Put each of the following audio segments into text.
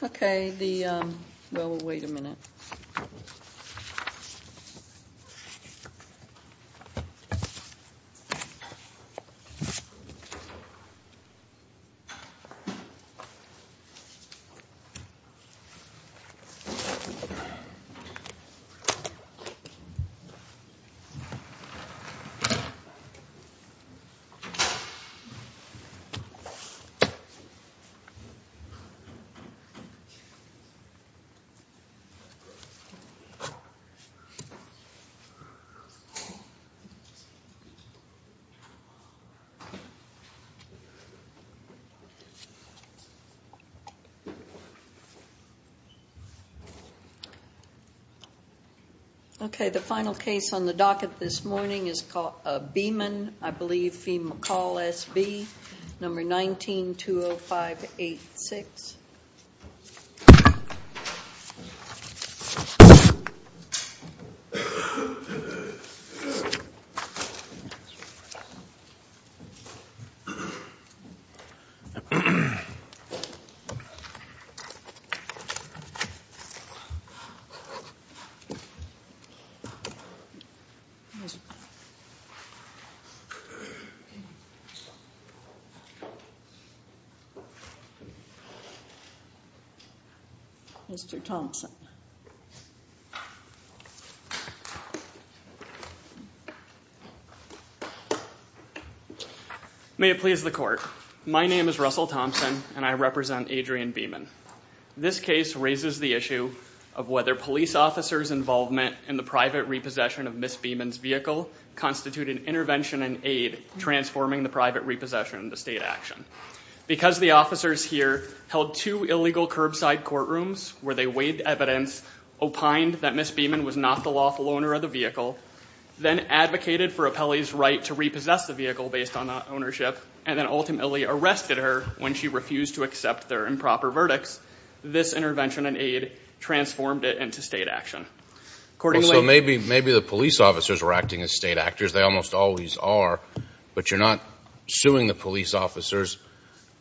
Okay, well, we'll wait a minute. Okay. Okay. Okay. Okay. Okay. The final case on the docket this morning is called, Mr. Thompson. May it please the court. My name is Russell Thompson, and I represent Adrian Beaman. This case raises the issue of whether police officers' involvement in the private repossession of Ms. Beaman's vehicle constituted intervention and aid transforming the private repossession into state action. Because the officers here held two illegal curbside courtrooms where they weighed the evidence, opined that Ms. Beaman was not the lawful owner of the vehicle, then advocated for Appelli's right to repossess the vehicle based on that ownership, and then ultimately arrested her when she refused to accept their improper verdicts, this intervention and aid transformed it into state action. Accordingly— Well, so maybe the police officers were acting as state actors. They almost always are. But you're not suing the police officers.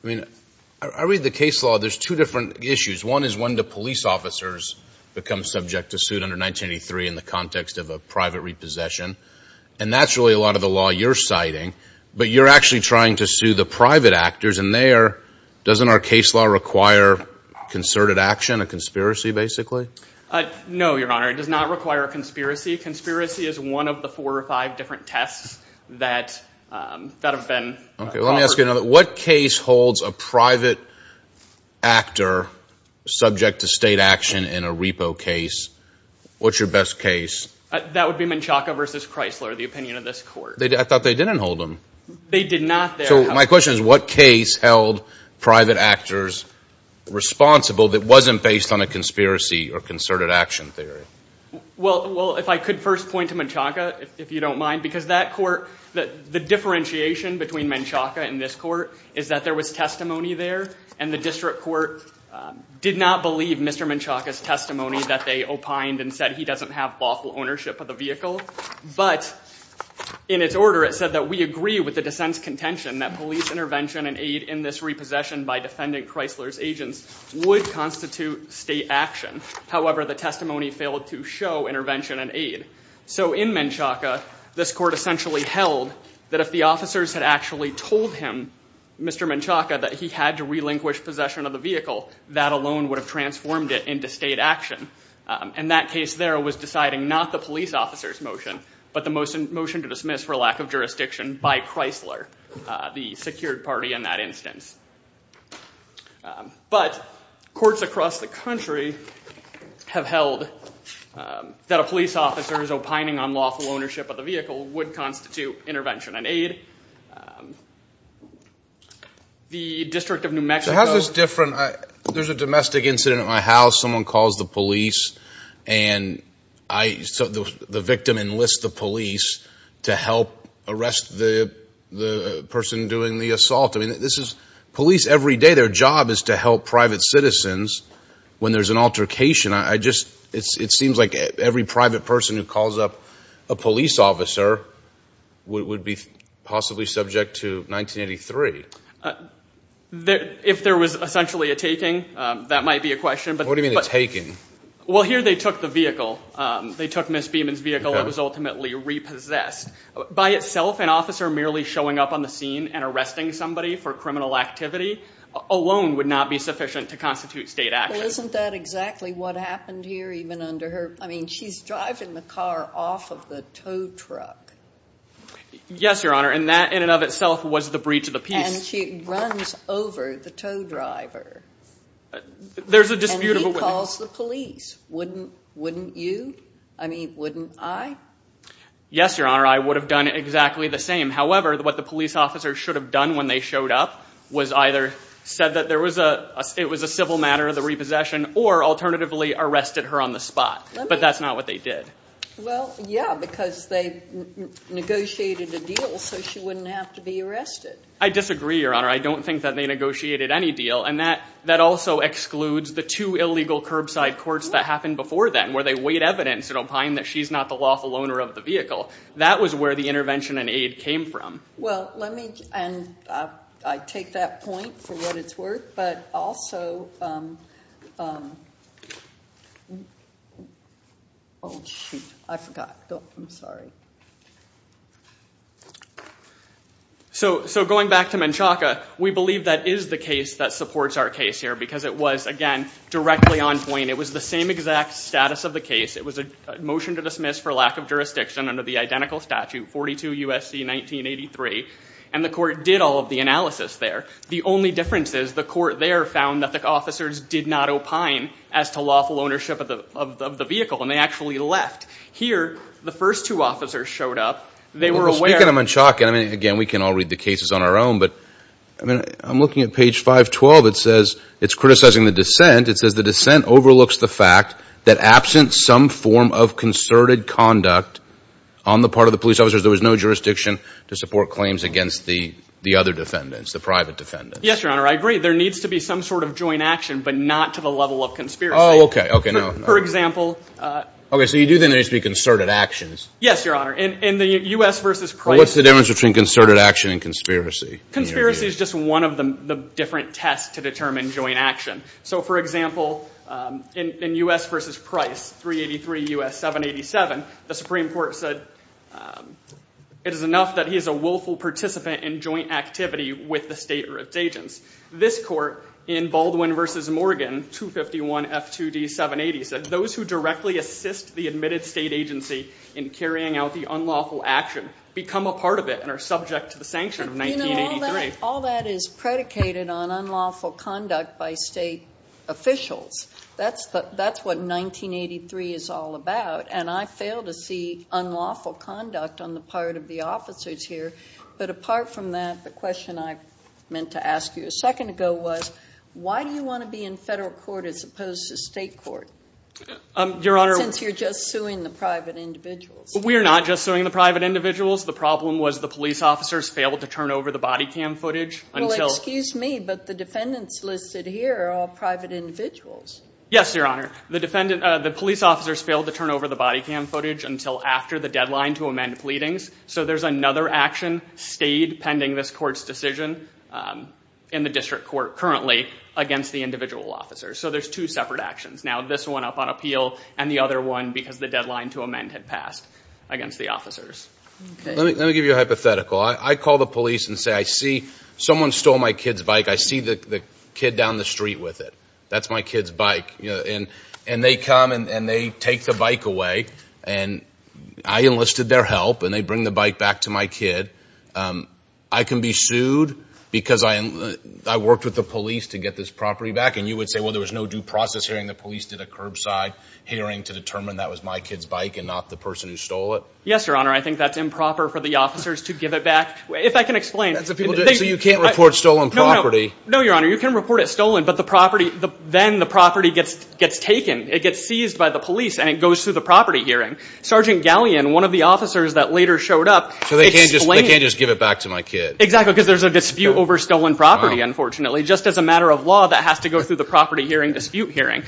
I mean, I read the case law. There's two different issues. One is when the police officers become subject to suit under 1983 in the context of a private repossession. And that's really a lot of the law you're citing. But you're actually trying to sue the private actors, and they are— doesn't our case law require concerted action, a conspiracy, basically? No, Your Honor. It does not require a conspiracy. Conspiracy is one of the four or five different tests that have been offered. Okay. Let me ask you another. What case holds a private actor subject to state action in a repo case? What's your best case? That would be Menchaca v. Chrysler, the opinion of this Court. I thought they didn't hold them. They did not there. So my question is what case held private actors responsible that wasn't based on a conspiracy or concerted action theory? Well, if I could first point to Menchaca, if you don't mind, because that court—the differentiation between Menchaca and this court is that there was testimony there, and the district court did not believe Mr. Menchaca's testimony that they opined and said he doesn't have lawful ownership of the vehicle. But in its order, it said that we agree with the dissent's contention that police intervention and aid in this repossession by defendant Chrysler's agents would constitute state action. However, the testimony failed to show intervention and aid. So in Menchaca, this court essentially held that if the officers had actually told him, Mr. Menchaca, that he had to relinquish possession of the vehicle, that alone would have transformed it into state action. And that case there was deciding not the police officer's motion, but the motion to dismiss for lack of jurisdiction by Chrysler, the secured party in that instance. But courts across the country have held that a police officer's opining on lawful ownership of the vehicle would constitute intervention and aid. The District of New Mexico— So how is this different? There's a domestic incident at my house. Someone calls the police, and the victim enlists the police to help arrest the person doing the assault. I mean, this is police every day. Their job is to help private citizens when there's an altercation. It seems like every private person who calls up a police officer would be possibly subject to 1983. If there was essentially a taking, that might be a question. What do you mean a taking? Well, here they took the vehicle. They took Ms. Beeman's vehicle. It was ultimately repossessed. By itself, an officer merely showing up on the scene and arresting somebody for criminal activity alone would not be sufficient to constitute state action. Well, isn't that exactly what happened here even under her— I mean, she's driving the car off of the tow truck. Yes, Your Honor, and that in and of itself was the breach of the peace. And she runs over the tow driver. There's a dispute— And he calls the police. Wouldn't you? I mean, wouldn't I? Yes, Your Honor, I would have done exactly the same. However, what the police officers should have done when they showed up was either said that it was a civil matter, the repossession, or alternatively arrested her on the spot. But that's not what they did. Well, yeah, because they negotiated a deal so she wouldn't have to be arrested. I disagree, Your Honor. I don't think that they negotiated any deal. And that also excludes the two illegal curbside courts that happened before then where they weighed evidence and opined that she's not the lawful owner of the vehicle. That was where the intervention and aid came from. Well, let me—and I take that point for what it's worth, but also—oh, shoot, I forgot. I'm sorry. So going back to Menchaca, we believe that is the case that supports our case here because it was, again, directly on point. It was the same exact status of the case. It was a motion to dismiss for lack of jurisdiction under the identical statute, 42 U.S.C. 1983, and the court did all of the analysis there. The only difference is the court there found that the officers did not opine as to lawful ownership of the vehicle, and they actually left. Here, the first two officers showed up. They were aware— Well, speaking of Menchaca, I mean, again, we can all read the cases on our own, but I'm looking at page 512. It says—it's criticizing the dissent. It says, The dissent overlooks the fact that absent some form of concerted conduct on the part of the police officers, there was no jurisdiction to support claims against the other defendants, the private defendants. Yes, Your Honor, I agree. There needs to be some sort of joint action, but not to the level of conspiracy. Oh, okay, okay, no. For example— Okay, so you do think there needs to be concerted actions. Yes, Your Honor. In the U.S. v. Price— Well, what's the difference between concerted action and conspiracy? Conspiracy is just one of the different tests to determine joint action. So, for example, in U.S. v. Price, 383 U.S. 787, the Supreme Court said it is enough that he is a willful participant in joint activity with the state or its agents. This Court, in Baldwin v. Morgan, 251 F2D 780, said those who directly assist the admitted state agency in carrying out the unlawful action become a part of it and are subject to the sanction of 1983. You know, all that is predicated on unlawful conduct by state officials. That's what 1983 is all about, and I fail to see unlawful conduct on the part of the officers here. But apart from that, the question I meant to ask you a second ago was, why do you want to be in federal court as opposed to state court? Your Honor— Since you're just suing the private individuals. We are not just suing the private individuals. The problem was the police officers failed to turn over the body cam footage until— Excuse me, but the defendants listed here are all private individuals. Yes, Your Honor. The police officers failed to turn over the body cam footage until after the deadline to amend pleadings. So there's another action stayed pending this Court's decision in the district court currently against the individual officers. So there's two separate actions. Now, this one up on appeal, and the other one because the deadline to amend had passed against the officers. Let me give you a hypothetical. I call the police and say, I see someone stole my kid's bike. I see the kid down the street with it. That's my kid's bike. And they come and they take the bike away. And I enlisted their help, and they bring the bike back to my kid. I can be sued because I worked with the police to get this property back. And you would say, well, there was no due process hearing. The police did a curbside hearing to determine that was my kid's bike and not the person who stole it? Yes, Your Honor. I think that's improper for the officers to give it back. If I can explain... So you can't report stolen property? No, Your Honor. You can report it stolen, but then the property gets taken. It gets seized by the police, and it goes through the property hearing. Sergeant Galleon, one of the officers that later showed up, explained... So they can't just give it back to my kid? Exactly, because there's a dispute over stolen property, unfortunately, just as a matter of law that has to go through the property hearing dispute hearing.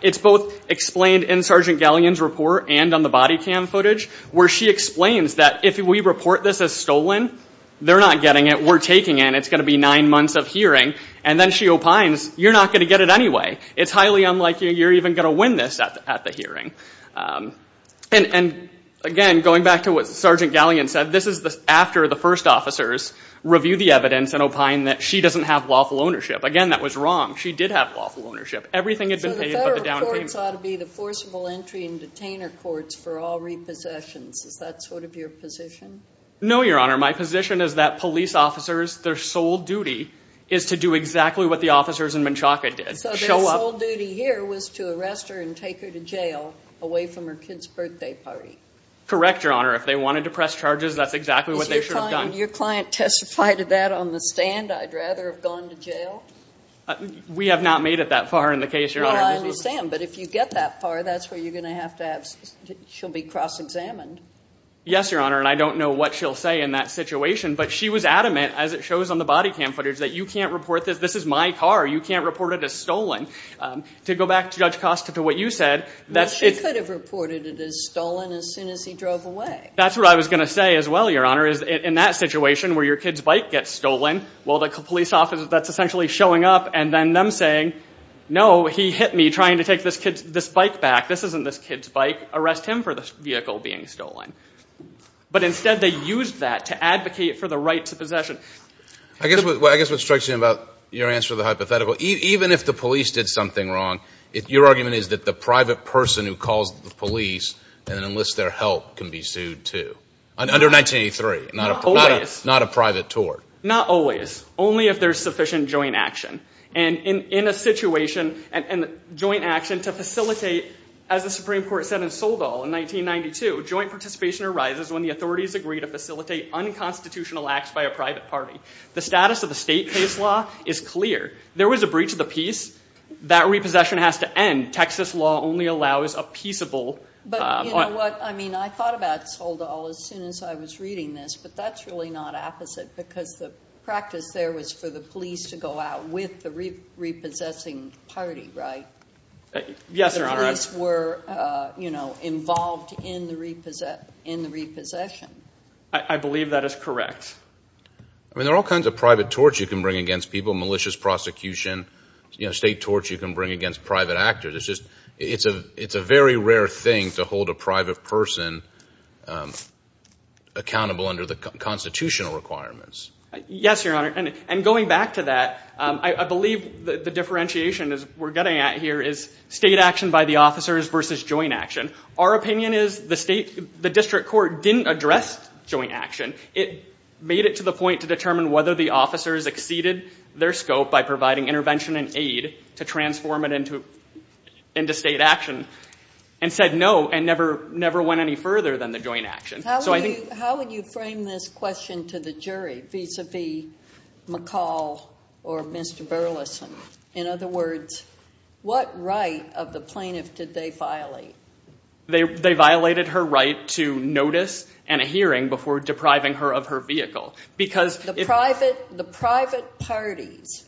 It's both explained in Sergeant Galleon's report and on the body cam footage, where she explains that if we report this as stolen, they're not getting it, we're taking it, and it's going to be nine months of hearing. And then she opines, you're not going to get it anyway. It's highly unlikely you're even going to win this at the hearing. And again, going back to what Sergeant Galleon said, this is after the first officers review the evidence and opine that she doesn't have lawful ownership. Again, that was wrong. She did have lawful ownership. Everything had been paid for the down payment. So the federal courts ought to be the forcible entry and detainer courts for all repossessions. Is that sort of your position? No, Your Honor. My position is that police officers, their sole duty is to do exactly what the officers in Menchaca did. So their sole duty here was to arrest her and take her to jail away from her kid's birthday party. Correct, Your Honor. If they wanted to press charges, that's exactly what they should have done. Does your client testify to that on the stand, I'd rather have gone to jail? We have not made it that far in the case, Your Honor. No, I understand. But if you get that far, that's where you're going to have to have, she'll be cross-examined. Yes, Your Honor, and I don't know what she'll say in that situation. But she was adamant, as it shows on the body cam footage, that you can't report this. This is my car. You can't report it as stolen. To go back to Judge Costa, to what you said. She could have reported it as stolen as soon as he drove away. That's what I was going to say as well, Your Honor, is in that situation where your kid's bike gets stolen, well, the police officer that's essentially showing up and then them saying, no, he hit me trying to take this bike back. This isn't this kid's bike. Arrest him for the vehicle being stolen. But instead they used that to advocate for the right to possession. I guess what strikes me about your answer to the hypothetical, even if the police did something wrong, your argument is that the private person who calls the police and enlists their help can be sued too. Under 1983. Not a private tort. Not always. Only if there's sufficient joint action. And in a situation, and joint action to facilitate, as the Supreme Court said in Soldall in 1992, joint participation arises when the authorities agree to facilitate unconstitutional acts by a private party. The status of the state case law is clear. There was a breach of the peace. That repossession has to end. Texas law only allows a peaceable. But you know what? I mean, I thought about Soldall as soon as I was reading this, but that's really not apposite because the practice there was for the police to go out with the repossessing party. Right? Yes, Your Honor. The police were, you know, involved in the repossession. I believe that is correct. I mean, there are all kinds of private torts you can bring against people, malicious prosecution, you know, state torts you can bring against private actors. It's just, it's a very rare thing to hold a private person accountable under the constitutional requirements. Yes, Your Honor. And going back to that, I believe the differentiation we're getting at here is state action by the officers versus joint action. Our opinion is the district court didn't address joint action. It made it to the point to determine whether the officers exceeded their scope by providing intervention and aid to transform it into state action and said no and never went any further than the joint action. How would you frame this question to the jury vis-a-vis McCall or Mr. Burleson? In other words, what right of the plaintiff did they violate? They violated her right to notice and a hearing before depriving her of her vehicle. The private parties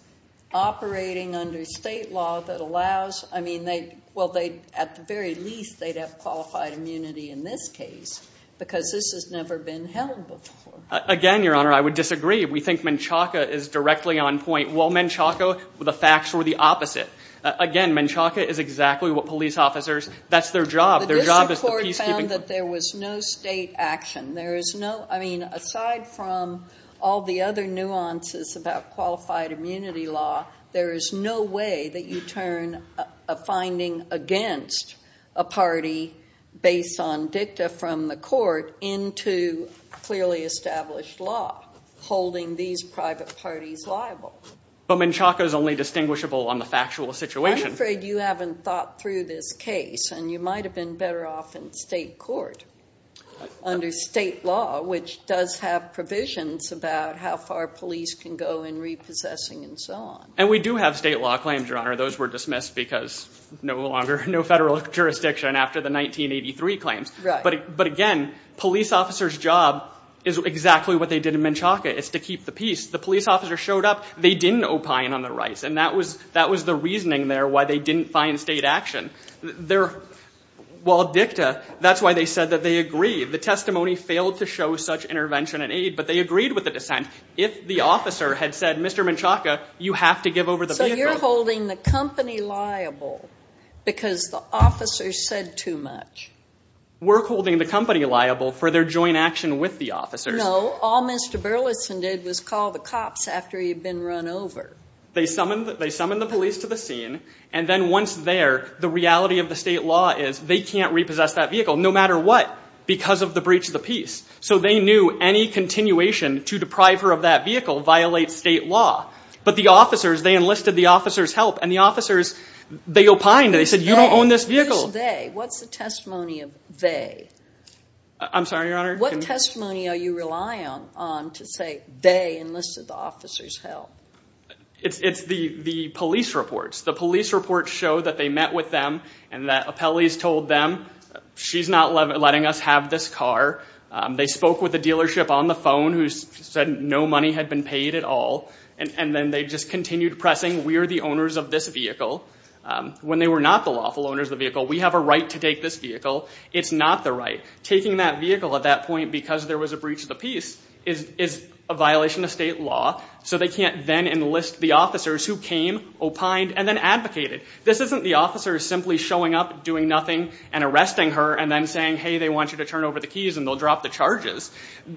operating under state law that allows, I mean, well, at the very least they'd have qualified immunity in this case because this has never been held before. Again, Your Honor, I would disagree. We think Menchaca is directly on point. While Menchaca, the facts were the opposite. Again, Menchaca is exactly what police officers, that's their job. Their job is the peacekeeping. The district court found that there was no state action. There is no, I mean, aside from all the other nuances about qualified immunity law, there is no way that you turn a finding against a party based on dicta from the court into clearly established law holding these private parties liable. But Menchaca is only distinguishable on the factual situation. I'm afraid you haven't thought through this case and you might've been better off in state court under state law, which does have provisions about how far police can go in repossessing and so on. And we do have state law claims, Your Honor. Those were dismissed because no longer no federal jurisdiction after the 1983 claims. Right. But, but again, police officer's job is exactly what they did in Menchaca. It's to keep the peace. The police officer showed up, they didn't opine on the rights. And that was, that was the reasoning there why they didn't find state action. They're, while dicta, that's why they said that they agree. The testimony failed to show such intervention and aid, but they agreed with the dissent. If the officer had said, Mr. Menchaca, you have to give over the vehicle. So you're holding the company liable because the officer said too much. We're holding the company liable for their joint action with the officers. No, all Mr. Burleson did was call the cops after he had been run over. They summoned, they summoned the police to the scene. And then once there, the reality of the state law is they can't repossess that vehicle no matter what, because of the breach of the peace. So they knew any continuation to deprive her of that vehicle, violate state law. But the officers, they enlisted the officer's help and the officers, they opined. They said, you don't own this vehicle. What's the testimony of they? I'm sorry, Your Honor. What testimony are you relying on to say they enlisted the officer's help? It's, it's the, the police reports, the police reports show that they met with them and that appellees told them she's not letting us have this car. Um, they spoke with the dealership on the phone who said no money had been paid at all. And then they just continued pressing. We are the owners of this vehicle. Um, when they were not the lawful owners of the vehicle, we have a right to take this vehicle. It's not the right. Taking that vehicle at that point, because there was a breach of the peace is, is a violation of state law. So they can't then enlist the officers who came opined and then advocated. This isn't the officers simply showing up, doing nothing and arresting her and then saying, Hey, they want you to turn over the keys and they'll drop the charges.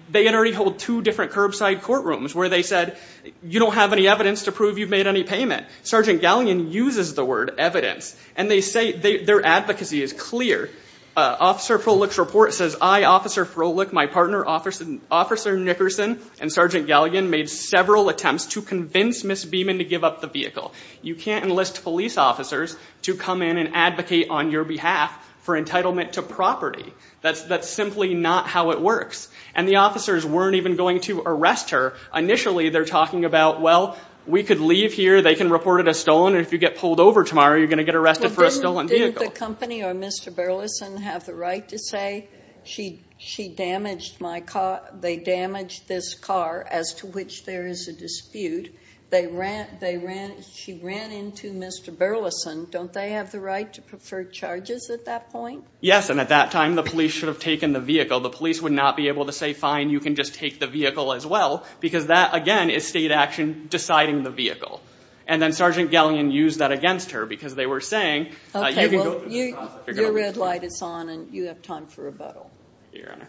They had already hold two different curbside courtrooms where they said, you don't have any evidence to prove you've made any payment. Sergeant Galligan uses the word evidence and they say they, their advocacy is clear. Uh, officer Froelich's report says, I officer Froelich, my partner officer, officer Nickerson and Sergeant Galligan made several attempts to convince Ms. Beeman to give up the vehicle. You can't enlist police officers to come in and advocate on your behalf for entitlement to property. That's, that's simply not how it works. And the officers weren't even going to arrest her. Initially. They're talking about, well, we could leave here. They can report it as stolen. And if you get pulled over tomorrow, you're going to get arrested for a stolen vehicle. The company or Mr. Berluson have the right to say, she, she damaged my car. They damaged this car as to which there is a dispute. They ran, they ran, she ran into Mr. Berluson. Don't they have the right to prefer charges at that point? Yes. And at that time, the police should have taken the vehicle. The police would not be able to say, fine, you can just take the vehicle as well because that again is state action deciding the vehicle. And then Sergeant Gellion used that against her because they were saying. Okay. Well, you, your red light is on and you have time for rebuttal. Your Honor.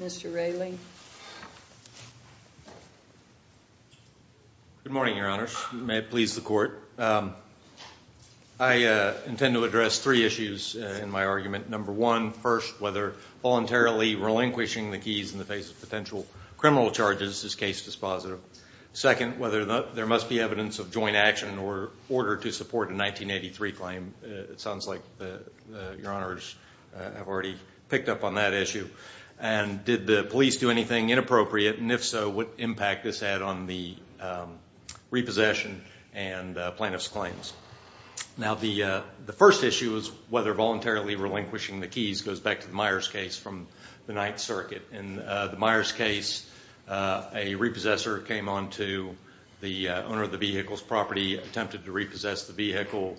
Mr. Raley. Good morning. Your Honor. May it please the court. Um, I, uh, intend to address three issues in my argument. Number one, first, whether voluntarily relinquishing the keys in the face of potential criminal charges is case dispositive. Second, whether there must be evidence of joint action or order to support a 1983 claim. It sounds like the, uh, your honors have already picked up on that issue. And did the police do anything inappropriate? And if so, what impact this had on the, um, repossession and, uh, plaintiff's claims. Now the, uh, the first issue is whether voluntarily relinquishing the keys goes back to the Myers case from the ninth circuit. And, uh, the Myers case, uh, a repossessor came onto the, uh, owner of the vehicle's property, attempted to repossess the vehicle.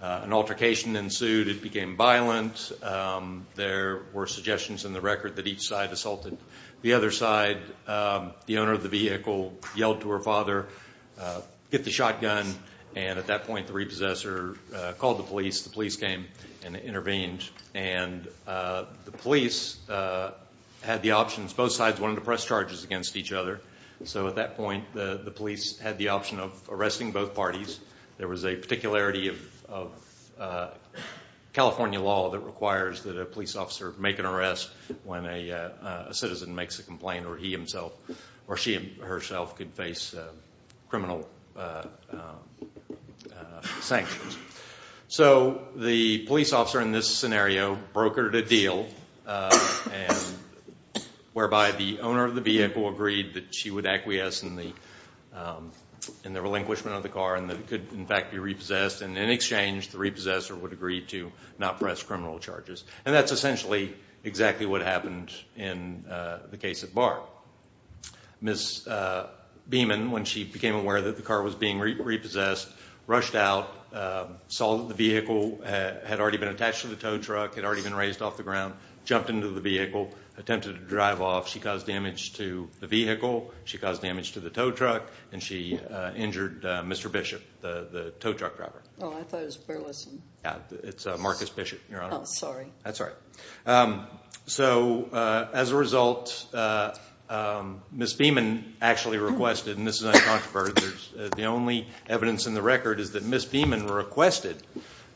Uh, an altercation ensued. It became violent. Um, there were suggestions in the record that each side assaulted the other side. Um, the owner of the vehicle yelled to her father, uh, get the shotgun. the repossessor, uh, called the police, the police came and intervened. And, uh, the police, uh, had the options. Both sides wanted to press charges against each other. So at that point, the, the police had the option of arresting both parties. There was a particularity of, of, uh, California law that requires that a police officer make an arrest when a, uh, a citizen makes a complaint or he himself or she herself could face, uh, criminal, uh, um, uh, sanctions. So the police officer in this scenario brokered a deal, uh, and, whereby the owner of the vehicle agreed that she would acquiesce in the, um, in the relinquishment of the car and that it could in fact be repossessed. And in exchange, the repossessor would agree to not press criminal charges. And that's essentially exactly what happened in, uh, the case at Barr. Miss, uh, Beeman, when she became aware that the car was being repossessed, rushed out, uh, saw that the vehicle, uh, had already been attached to the tow truck, had already been raised off the ground, jumped into the vehicle, attempted to drive off. She caused damage to the vehicle, she caused damage to the tow truck, and she, uh, injured, uh, Mr. Bishop, the, the tow truck driver. Oh, I thought it was Burleson. Yeah, it's, uh, Marcus Bishop, Your Honor. Oh, sorry. That's all right. Um, so, uh, as a result, uh, um, Miss Beeman actually requested, and this is uncontroverted, there's, uh, the only evidence in the record is that Miss Beeman requested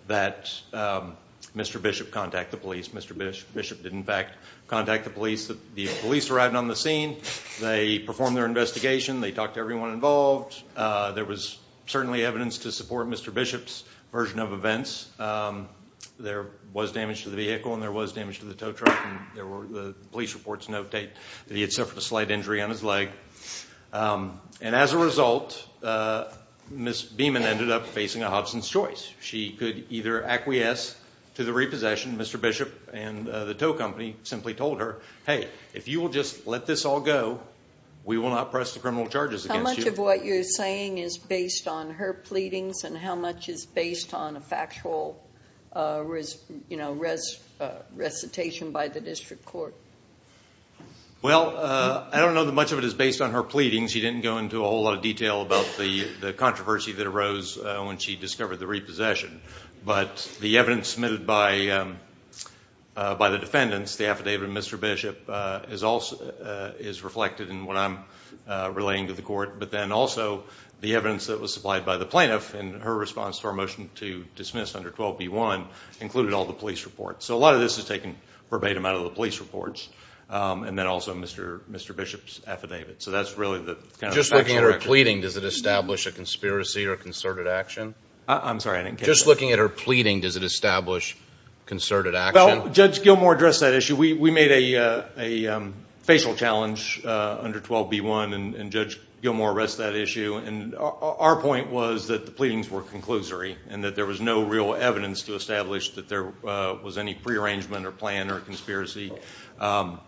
that, um, Mr. Bishop contact the police. Mr. Bishop, Mr. Bishop did, in fact, contact the police. The police arrived on the scene, they performed their investigation, they talked to everyone involved, uh, there was certainly evidence to support Mr. Bishop's version of events. Um, there was damage to the vehicle and there was damage to the tow truck, and there were, uh, police reports notate that he had suffered a slight injury on his leg. Um, and as a result, uh, Miss Beeman ended up facing a Hobson's Choice. She could either acquiesce to the repossession, Mr. Bishop and, uh, the tow company simply told her, hey, if you will just let this all go, we will not press the criminal charges against you. How much of what you're saying is based on her pleadings and how much is based on a factual, uh, res, you know, res, uh, recitation by the district court? Well, uh, I don't know that much of it is based on her pleadings. She didn't go into a whole lot of detail about the, the controversy that arose, uh, when she discovered the repossession, but the evidence submitted by, um, uh, by the defendants, the affidavit of Mr. Bishop, uh, is also, uh, is reflected in what I'm, uh, relating to the court, but then also the evidence that was supplied by the plaintiff and her response to our motion to dismiss under 12B1 included all the police reports. So a lot of this is taken verbatim out of the police reports, um, and then also Mr., Mr. Bishop's affidavit. So that's really the kind of factual record. Just looking at her pleading, does it establish a conspiracy or concerted action? I'm sorry, I didn't catch that. Just looking at her pleading, does it establish concerted action? Well, Judge Gilmour addressed that issue. We, we made a, a, um, facial challenge, uh, under 12B1 and, and Judge Gilmour addressed that issue. And our, our point was that the pleadings were conclusory and that there was no real evidence to establish that there, uh, was any prearrangement or plan or conspiracy. Um,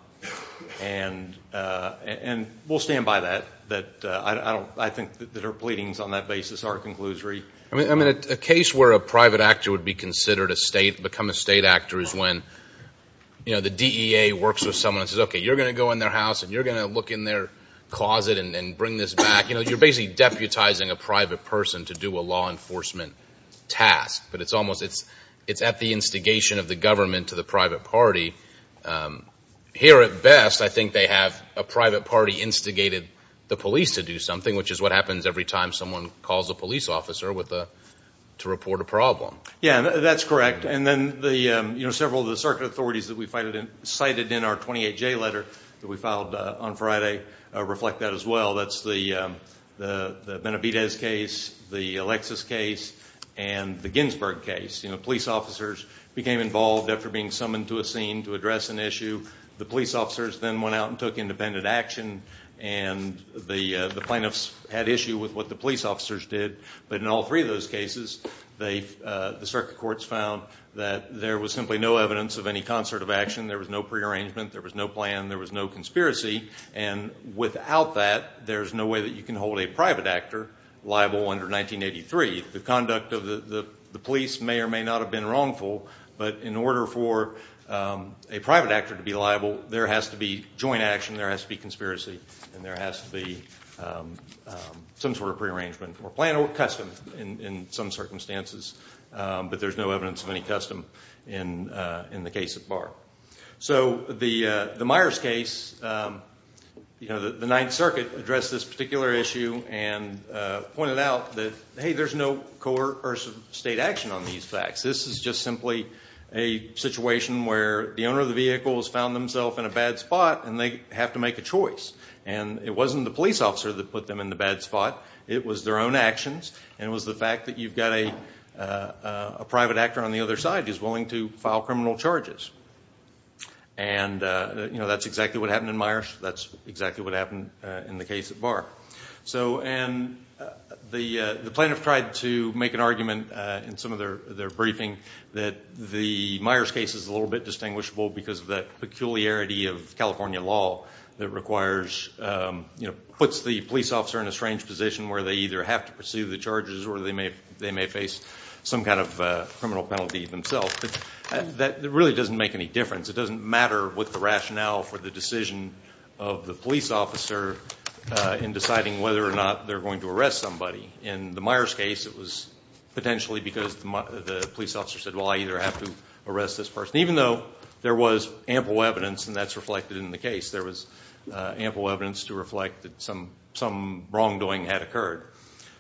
and, uh, and we'll stand by that, that, uh, I don't, I think that her pleadings on that basis are conclusory. I mean, I mean, a case where a private actor would be considered a state, become a state actor is when, you know, the DEA works with someone and says, okay, you're going to go in their house and you're going to look in their closet and, and bring this back. You know, you're basically deputizing a private person to do a law enforcement task. But it's almost, it's, it's at the instigation of the government to the private party. Um, here at best, I think they have a private party instigated the police to do something, which is what happens every time someone calls a police officer with a, to report a problem. Yeah, that's correct. And then the, um, you know, several of the circuit authorities that we fighted in, cited in our 28J letter that we filed, uh, on Friday, uh, reflect that as well. That's the, um, the, the Benavidez case, the Alexis case, and the Ginsburg case. You know, police officers became involved after being summoned to a scene to address an issue. The police officers then went out and took independent action and the, uh, the plaintiffs had issue with what the police officers did. But in all three of those cases, they, uh, the circuit courts found that there was simply no evidence of any concert of action. There was no prearrangement. There was no plan. There was no conspiracy. And without that, there's no way that you can hold a private actor liable under 1983. The conduct of the, the police may or may not have been wrongful, but in order for, um, a private actor to be liable, there has to be joint action. There has to be conspiracy. And there has to be, um, um, some sort of prearrangement or plan or custom in, in some circumstances. Um, but there's no evidence of any custom in, uh, in the case of Barr. So the, uh, the Myers case, um, you know, the Ninth Circuit addressed this particular issue and, uh, pointed out that, hey, there's no coercive state action on these facts. This is just simply a situation where the owner of the vehicle has found themselves in a bad spot and they have to make a choice. And it wasn't the police officer that put them in the bad spot. It was their own actions. And it was the fact that you've got a, uh, uh, a private actor on the other side who's willing to file criminal charges. And, uh, you know, that's exactly what happened in Myers. That's exactly what happened, uh, in the case of Barr. So, and, uh, the, uh, the plaintiff tried to make an argument, uh, in some of their, their briefing that the Myers case is a little bit distinguishable because of that peculiarity of California law that requires, um, you know, puts the police officer in a strange position where they either have to pursue the charges or they may, they may face some kind of, uh, criminal penalty themselves. But that really doesn't make any difference. It doesn't matter what the rationale for the decision of the police officer, uh, in deciding whether or not they're going to arrest somebody in the Myers case. It was potentially because the police officer said, well, I either have to arrest this person, even though there was ample evidence and that's reflected in the case. There was, uh, ample evidence to reflect that some, some wrongdoing had occurred.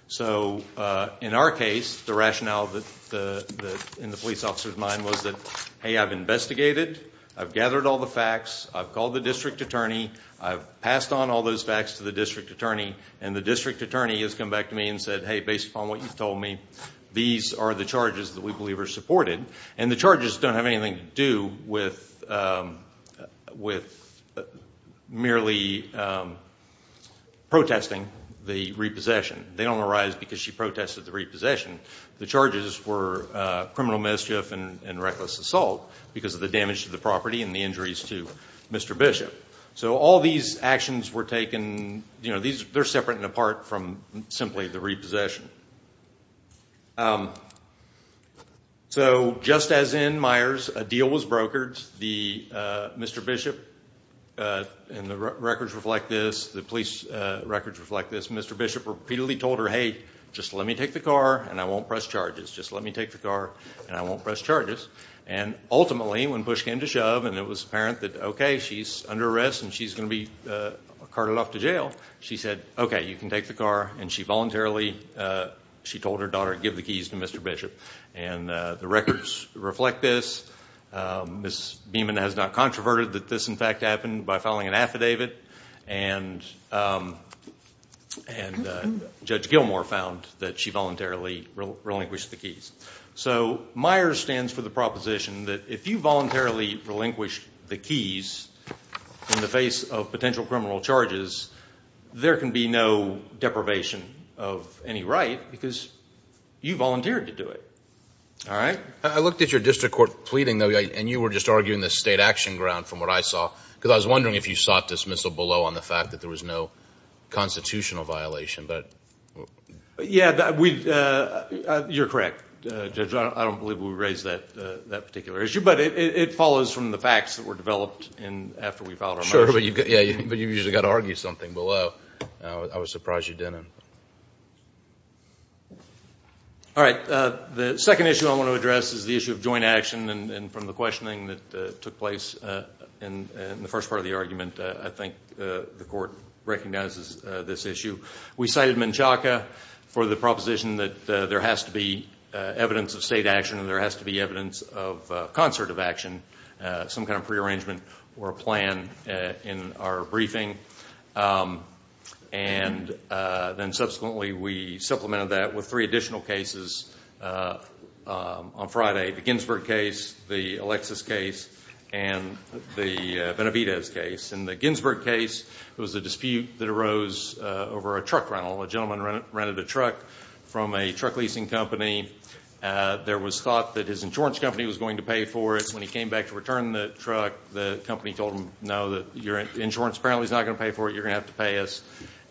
So, uh, in our case, the rationale that the, the, in the police officer's mind was that, Hey, I've investigated, I've gathered all the facts, I've called the district attorney, I've passed on all those facts to the district attorney. And the district attorney has come back to me and said, Hey, based upon what you've told me, these are the charges that we believe are supported. And the charges don't have anything to do with, um, with merely, um, protesting the repossession. They don't arise because she protested the repossession. The charges were, uh, criminal mischief and reckless assault. Because of the damage to the property and the injuries to Mr. Bishop. So all these actions were taken, you know, these, they're separate and apart from simply the repossession. Um, so just as in Myers, a deal was brokered. The, uh, Mr. Bishop, uh, and the records reflect this, the police, uh, records reflect this. Mr. Bishop repeatedly told her, Hey, just let me take the car and I won't press charges. Just let me take the car and I won't press charges. And ultimately, when push came to shove, and it was apparent that, okay, she's under arrest and she's going to be, uh, carted off to jail. She said, okay, you can take the car. And she voluntarily, uh, she told her daughter, give the keys to Mr. Bishop. And, uh, the records reflect this. Um, Ms. Beeman has not controverted that this in fact happened by filing an affidavit. And, um, and, uh, Judge Gilmore found that she voluntarily relinquished the keys. So Myers stands for the proposition that if you voluntarily relinquished the keys in the face of potential criminal charges, there can be no deprivation of any right because you volunteered to do it. All right. I looked at your district court pleading though, and you were just arguing the state action ground from what I saw, because I was wondering if you sought dismissal below on the fact that there was no constitutional violation, but. Yeah, we, uh, you're correct. Uh, Judge, I don't, I don't believe we raised that, uh, that particular issue, but it, it, it follows from the facts that were developed in, after we filed our motion. Sure, but you've got, yeah, but you've usually got to argue something below. I was surprised you didn't. All right. Uh, the second issue I want to address is the issue of joint action. And, and from the questioning that, uh, took place, uh, in, in the first part of the argument, uh, I think, uh, the, the court recognizes, uh, this issue. We cited Menchaca for the proposition that, uh, there has to be, uh, evidence of state action and there has to be evidence of, uh, concert of action, uh, some kind of prearrangement or a plan, uh, in our briefing. Um, and, uh, then subsequently we supplemented that with three additional cases, uh, um, on Friday. The Ginsburg case, the Alexis case, and the, uh, Benavidez case. In the Ginsburg case, there was a dispute that arose, uh, over a truck rental. A gentleman rented a truck from a truck leasing company. Uh, there was thought that his insurance company was going to pay for it. When he came back to return the truck, the company told him, no, that your insurance apparently is not going to pay for it. You're going to have to pay us.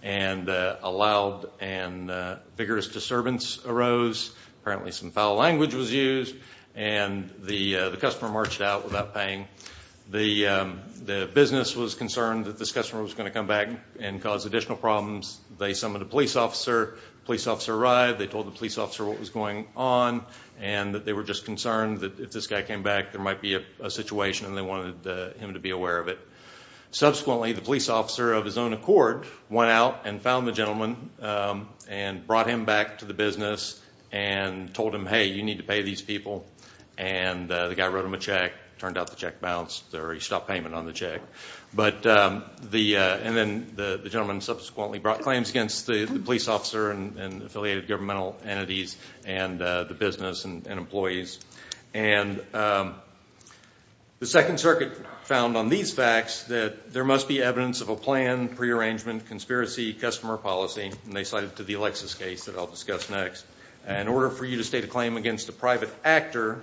And, uh, a loud and, uh, vigorous disturbance arose. Apparently some foul language was used. And the, uh, the customer marched out without paying. The, um, the business was concerned that this customer was going to come back and cause additional problems. They summoned a police officer. The police officer arrived. They told the police officer what was going on and that they were just concerned that if this guy came back, there might be a, a situation and they wanted, uh, him to be aware of it. Subsequently, the police officer of his own accord went out and found the gentleman, um, and brought him back to the business and told him, hey, you need to pay these people. And, uh, the guy wrote him a check. Turned out the check bounced or he stopped payment on the check. But, um, the, uh, and then the, the gentleman subsequently brought claims against the police officer and, and affiliated governmental entities and, uh, the business and, and employees. And, um, the Second Circuit found on these facts that there must be evidence of a plan, prearrangement, conspiracy, customer policy. And they cited to the Alexis case that I'll discuss next. In order for you to state a claim against a private actor,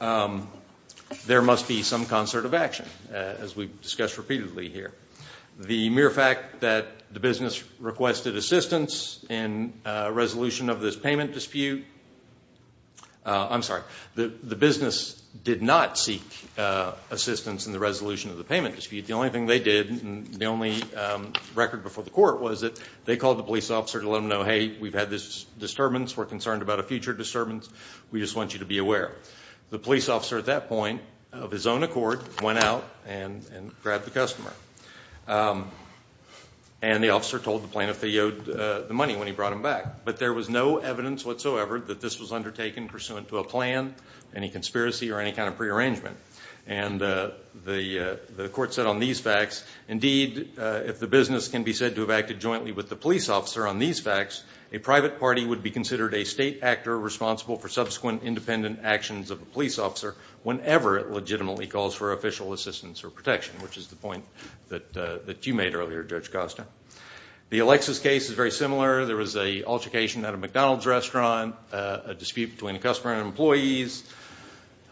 um, there must be some concert of action, uh, as we've discussed repeatedly here. The mere fact that the business requested assistance in, uh, resolution of this payment dispute, uh, I'm sorry, the, the business did not seek, uh, assistance in the resolution of the payment dispute. The only thing they did, and the only, um, record before the court was that they called the police officer to let him know, hey, we've had this disturbance. We're concerned about a future disturbance. We just want you to be aware. The police officer at that point, of his own accord, went out and, and grabbed the customer. Um, and the officer told the plaintiff that he owed, uh, the money when he brought him back. But there was no evidence whatsoever that this was undertaken pursuant to a plan, any conspiracy, or any kind of prearrangement. And, uh, the, uh, the court said on these facts, indeed, uh, if the business can be said to have acted jointly with the police officer on these facts, a private party would be considered a state actor responsible for subsequent independent actions of a police officer whenever it legitimately calls for official assistance or protection, which is the point that, uh, that you made earlier, Judge Costa. The Alexis case is very similar. There was a altercation at a McDonald's restaurant, uh, a dispute between a customer and employees.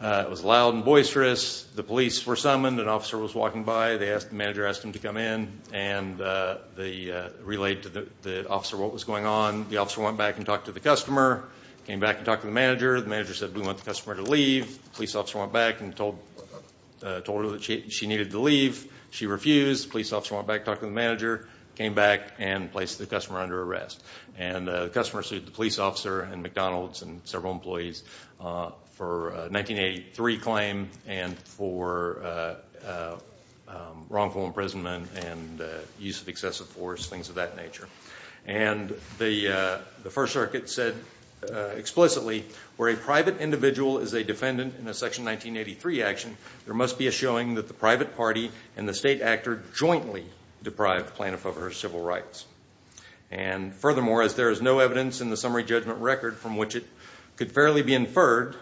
Uh, it was loud and boisterous. The police were summoned. An officer was walking by. They asked, the manager asked him to come in. And, uh, the, uh, relayed to the officer what was going on. The officer went back and talked to the customer, came back and talked to the manager. The manager said, we want the customer to leave. The police officer went back and told, uh, told her that she, she needed to leave. She refused. The police officer went back, talked to the manager, came back, and placed the customer under arrest. And, uh, the customer sued the police officer and McDonald's and several employees, uh, for, uh, 1983 claim and for, uh, uh, uh, wrongful imprisonment and, uh, use of excessive force, things of that nature. And, the, uh, the First Circuit said, uh, explicitly, where a private individual is a defendant in a Section 1983 action, there must be a showing that the private party and the state actor jointly deprive the plaintiff of her civil rights. And, furthermore, as there is no evidence in the summary judgment record from which it could fairly be inferred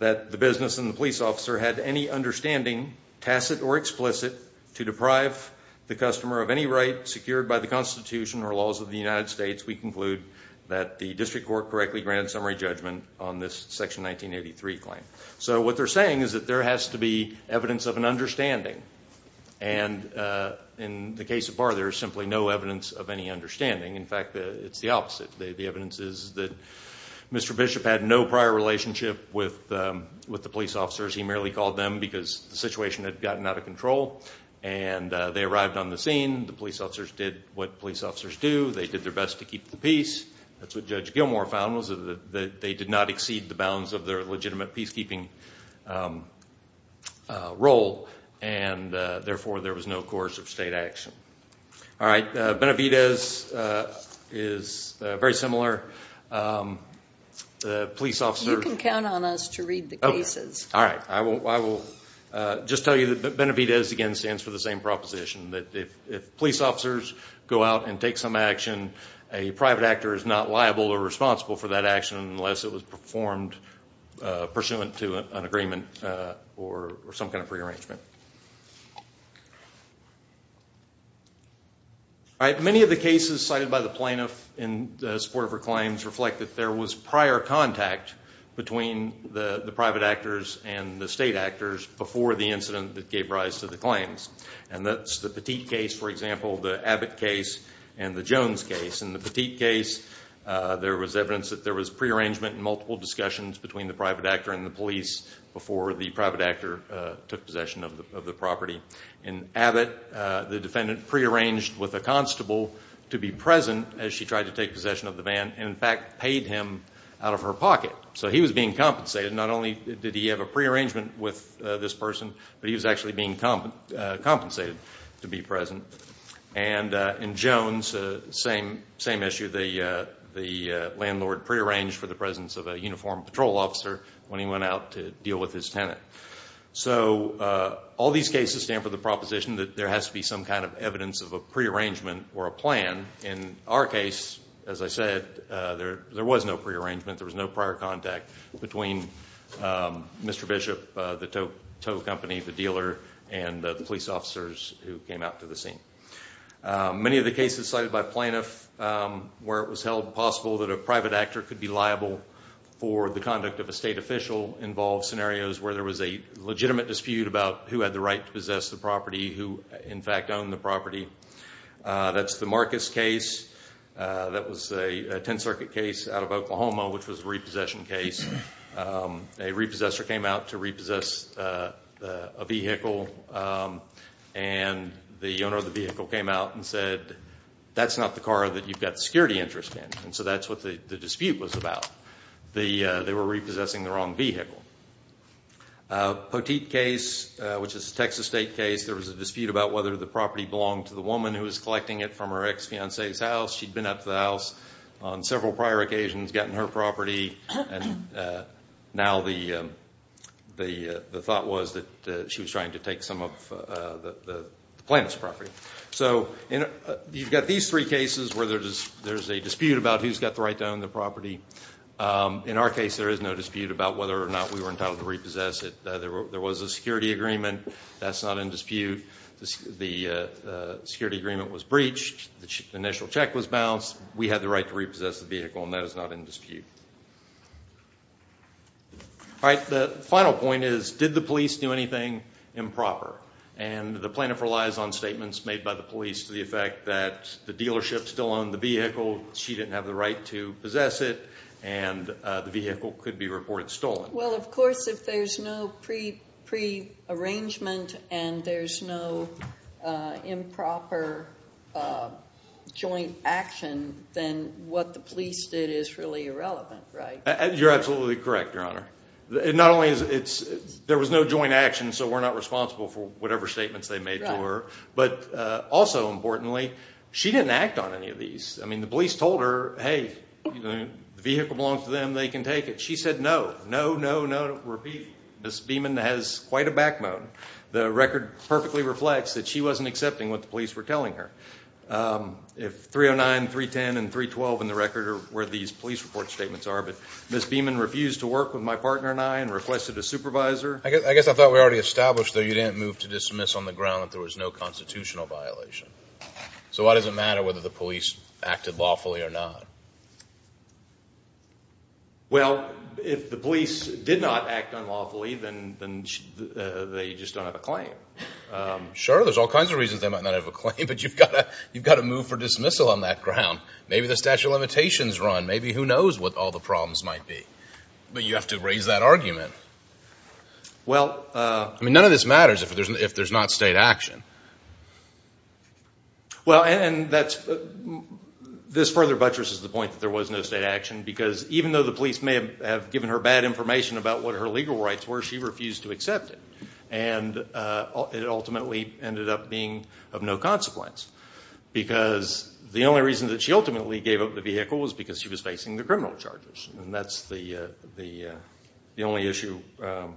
that the business and the police officer had any understanding, tacit or explicit, to deprive the customer of any right secured by the Constitution or laws of the United States, we conclude that the district court correctly granted summary judgment on this Section 1983 claim. So, what they're saying is that there has to be evidence of an understanding. And, uh, in the case of Barr, there is simply no evidence of any understanding. In fact, it's the opposite. The evidence is that Mr. Bishop had no prior relationship with, um, with the police officers. He merely called them because the situation had gotten out of control. And, uh, they arrived on the scene. The police officers did what police officers do. They did their best to keep the peace. That's what Judge Gilmour found was that they did not exceed the bounds of their legitimate peacekeeping, um, uh, role. And, uh, therefore, there was no course of state action. All right. Uh, Benavidez, uh, is, uh, um, the police officers... You can count on us to read the cases. Okay. All right. I will, I will, uh, just tell you that Benavidez, again, stands for the same proposition. That if, if police officers go out and take some action, a private actor is not liable or responsible for that action unless it was performed, uh, pursuant to an agreement, uh, or, or some kind of rearrangement. All right. Many of the cases cited by the plaintiff in support of her claims reflect that there was prior contact between the, the private actors and the state actors before the incident that gave rise to the claims. And that's the Petit case, for example, the Abbott case, and the Jones case. In the Petit case, uh, there was evidence that there was prearrangement and multiple discussions between the private actor and the police before the private actor, uh, took possession of the, of the property. In Abbott, uh, the defendant prearranged with a constable to be present as she tried to take possession of the van and, in fact, paid him out of her pocket. So he was being compensated. Not only did he have a prearrangement with, uh, this person, but he was actually being comp, uh, compensated to be present. And, uh, in Jones, uh, same, same issue. The, uh, the, uh, landlord prearranged for the presence of a uniformed patrol officer when he went out to deal with his tenant. So, uh, all these cases stand for the proposition that there has to be some kind of evidence of a prearrangement or a plan. In our case, as I said, uh, there, there was no prearrangement. There was no prior contact between, um, Mr. Bishop, uh, the tow, tow company, the dealer, and, uh, the police officers who came out to the scene. Um, many of the cases cited by plaintiff, um, where it was held possible that a private actor could be liable for the conduct of a state official involved scenarios where there was a legitimate dispute about who had the right to possess the property, who, in fact, owned the property. Uh, that's the Marcus case. Uh, that was a, a 10th Circuit case out of Oklahoma which was a repossession case. Um, a repossessor came out to repossess, uh, a vehicle, um, and the owner of the vehicle came out and said, that's not the car that you've got security interest in. And so that's what the, the dispute was about. The, uh, they were repossessing the wrong vehicle. Uh, Poteet case, uh, which is a Texas state case, there was a dispute about whether the property belonged to the woman who was collecting it from her ex-fiance's house. She'd been up to the house on several prior occasions, gotten her property, and, uh, now the, um, the, the thought was that, uh, she was trying to take some of, uh, the, the plaintiff's property. So, in a, you've got these three cases where there's, there's a dispute about who's got the right to own the property. Um, in our case, there is no dispute about whether or not we were entitled to repossess it. Uh, there were, there was a security agreement. That's not in dispute. The, the, uh, security agreement was breached. The initial check was bounced. We had the right to repossess the vehicle, and that is not in dispute. Alright, the final point is, did the police do anything improper? And, the plaintiff relies on statements made by the police to the effect that the dealership still owned the vehicle, she didn't have the right to possess it, and, uh, the vehicle could be reported stolen. Well, of course, if there's no pre, uh, pre-arrangement, and there's no, uh, improper, uh, joint action, then what the police did is really irrelevant, right? Uh, you're absolutely correct, Your Honor. Not only is it, it's, there was no joint action, so we're not responsible for whatever statements they made to her. Right. But, uh, also importantly, she didn't act on any of these. I mean, the police told her, hey, you know, the vehicle belongs to them, they can take it. She said no. No, no, no, no, Now, I want to note, repeat, Ms. Beeman has quite a backbone. The record perfectly reflects that she wasn't accepting what the police were telling her. Um, if 309, 310, and 312 in the record are where these police report statements are, but Ms. Beeman refused to work with my partner and I and requested a supervisor. I guess, I guess I thought we already established that you didn't move to dismiss on the ground that there was no constitutional violation. So why does it matter whether the police acted lawfully or not? Well, if the police did not act unlawfully, then, then they just don't have a claim. Um, sure. There's all kinds of reasons they might not have a claim, but you've got to, you've got to move for dismissal on that ground. Maybe the statute of limitations run. Maybe who knows what all the problems might be, but you have to raise that argument. Well, uh, I mean, none of this matters if there's, if there's not state action. Well, and that's, this further buttresses the point that there was no state action because even though the police may have, have given her bad information about what her legal rights were, she refused to accept it. And, uh, it ultimately ended up being of no consequence because the only reason that she ultimately gave up the vehicle was because she was facing the criminal charges. And that's the, the, the only issue. Um,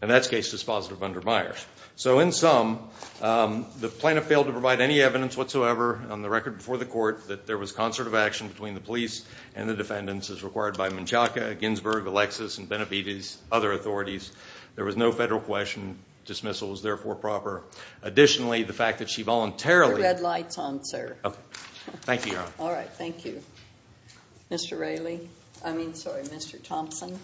and that's case dispositive under Meyers. So in sum, um, the plaintiff failed to provide any evidence whatsoever on the record before the court that there was concert of action between the police and the defendants as required by Menchaca, Ginsburg, Alexis, and Benavides, other authorities. There was no federal question. Dismissal was therefore proper. Additionally, the fact that she voluntarily... The red light's on, sir. Okay. Thank you, Your Honor. All right. Thank you. Mr. Raley, I mean, sorry, Mr. Thompson.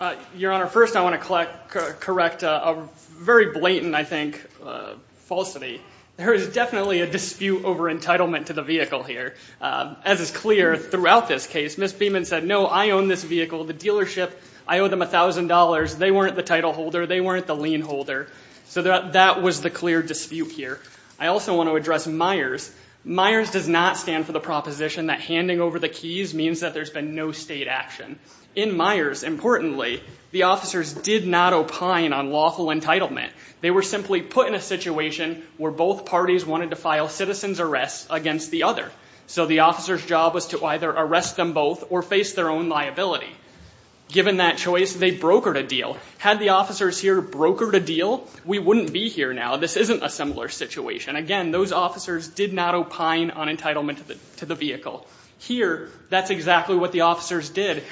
Uh, Your Honor, first I want to collect, correct, uh, a very blatant, I think, uh, falsity. There is definitely a dispute over entitlement to the vehicle here. Um, as is clear throughout this case, Ms. Beeman said, no, I own this vehicle. The dealership, I owe them $1,000. They weren't the title holder. They weren't the lien holder. So that, that was the clear dispute here. I also want to address Myers. Myers does not stand for the proposition that handing over the keys means that there's been no state action. In Myers, importantly, the officers did not opine on lawful entitlement. They were simply put in a situation where both parties wanted to file citizen's arrest against the other. So the officer's job was to either arrest them both or face their own liability. Given that choice, they brokered a deal. Had the officers here brokered a deal, we wouldn't be here now. This isn't a similar situation. Again, those officers did not opine on entitlement to the vehicle. Here, that's exactly what the officers did.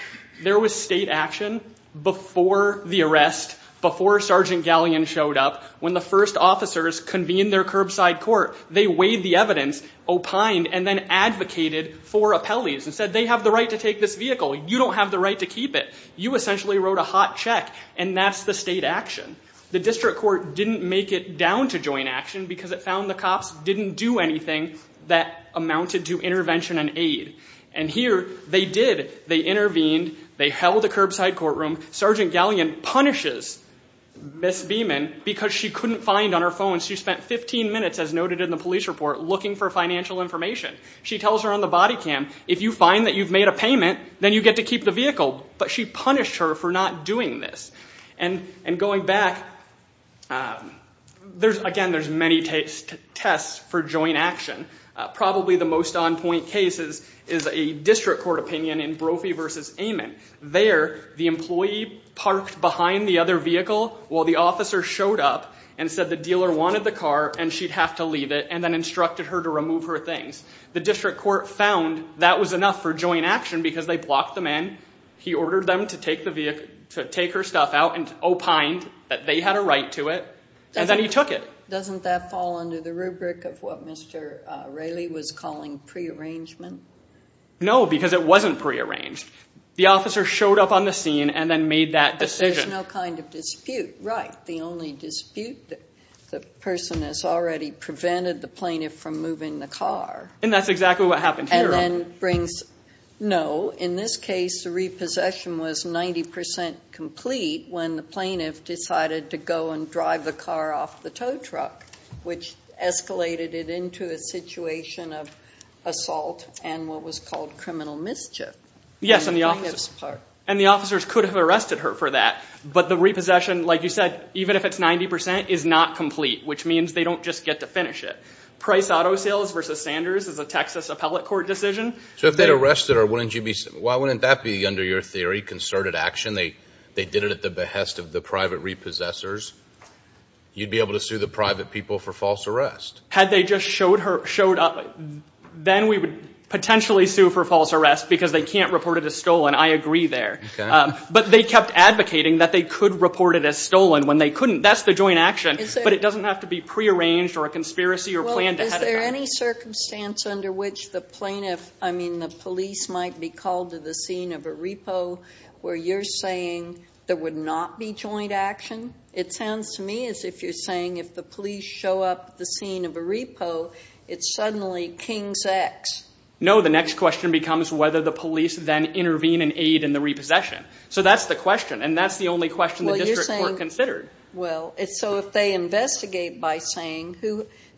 There was state action before the arrest, before Sergeant Galleon showed up. When the first officers convened their curbside court, they weighed the evidence, opined, and then advocated for appellees and said, they have the right to take this vehicle. You don't have the right to keep it. You essentially wrote a hot check. And that's the state action. The district court didn't make it down to joint action because it found the cops didn't do anything that amounted to intervention and aid. And here they did. They intervened. They held a curbside courtroom. Sergeant Galleon punishes Miss Beeman because she couldn't find on her phone. She spent 15 minutes, as noted in the police report, looking for financial information. She tells her on the body cam, if you find that you've made a payment, then you get to keep the vehicle. But she punished her for not doing this. And going back, again, there's many tests for joint action. Probably the most on-point case is a district court opinion in Brophy versus Amon. There, the employee parked behind the other vehicle while the officer showed up and said the dealer wanted the car and she'd have to leave it and then instructed her to remove her things. The district court found that was enough for joint action because they blocked the man. He ordered them to take her stuff out and opined that they had a right to it. And then he took it. Doesn't that fall under the rubric of what Mr. Raley was calling prearrangement? No, because it wasn't prearranged. The officer showed up on the scene and then made that decision. But there's no kind of dispute, right? The only dispute, the person has already prevented the plaintiff from moving the car. And that's exactly what happened here. And then brings, no, in this case, the repossession was 90% complete when the plaintiff decided to go and drive the car off the tow truck, which escalated it into a situation of assault and what was called criminal mischief. Yes, and the officers could have arrested her for that. But the repossession, like you said, even if it's 90% is not complete, which means they don't just get to finish it. Price Auto Sales versus Sanders is a Texas appellate court decision. So if they'd arrested her, why wouldn't that be, under your theory, concerted action? They did it at the behest of the private repossessors. You'd be able to sue the private people for false arrest. Had they just showed up, then we would potentially sue for false arrest because they can't report it as stolen. I agree there. But they kept advocating that they could report it as stolen when they couldn't. That's the joint action. But it doesn't have to be prearranged or a conspiracy or planned ahead of time. Well, is there any circumstance under which the plaintiff, I mean the police might be called to the scene of a repo where you're saying there would not be joint action? It sounds to me as if you're saying if the police show up at the scene of a repo, it's suddenly King's X. No, the next question becomes whether the police then intervene and aid in the repossession. So that's the question, and that's the only question the district court considered. Well, so if they investigate by saying,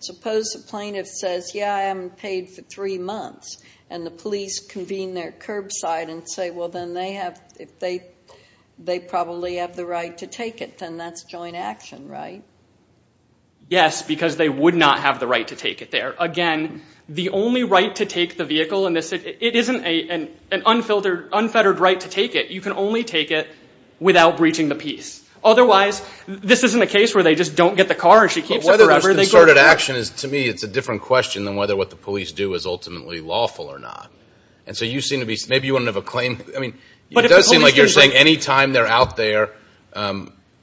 suppose the plaintiff says, yeah, I haven't paid for three months, and the police convene their curbside and say, well, then they probably have the right to take it, then that's joint action, right? Yes, because they would not have the right to take it there. Again, the only right to take the vehicle in this city, it isn't an unfettered right to take it. You can only take it without breaching the peace. Otherwise, this isn't a case where they just don't get the car and she keeps it forever. To me, it's a different question than whether what the police do is ultimately lawful or not. And so maybe you wouldn't have a claim. I mean, it does seem like you're saying any time they're out there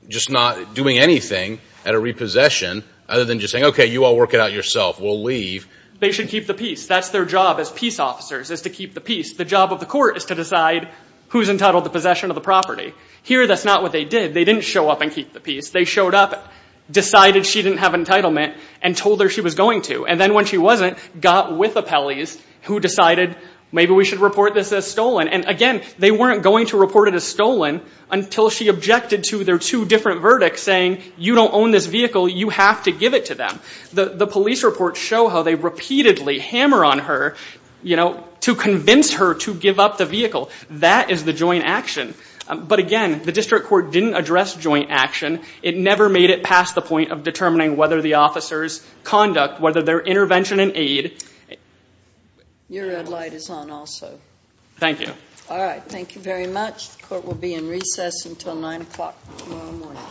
just not doing anything at a repossession other than just saying, okay, you all work it out yourself. We'll leave. They should keep the peace. That's their job as peace officers is to keep the peace. The job of the court is to decide who's entitled to possession of the property. Here, that's not what they did. They didn't show up and keep the peace. They showed up, decided she didn't have entitlement, and told her she was going to. And then when she wasn't, got with appellees who decided maybe we should report this as stolen. And again, they weren't going to report it as stolen until she objected to their two different verdicts saying, you don't own this vehicle. You have to give it to them. The police reports show how they repeatedly hammer on her to convince her to give up the vehicle. That is the joint action. But again, the district court didn't address joint action. It never made it past the point of determining whether the officer's conduct, whether their intervention and aid... Your red light is on also. Thank you. All right. Thank you very much. The court will be in recess until 9 o'clock tomorrow morning.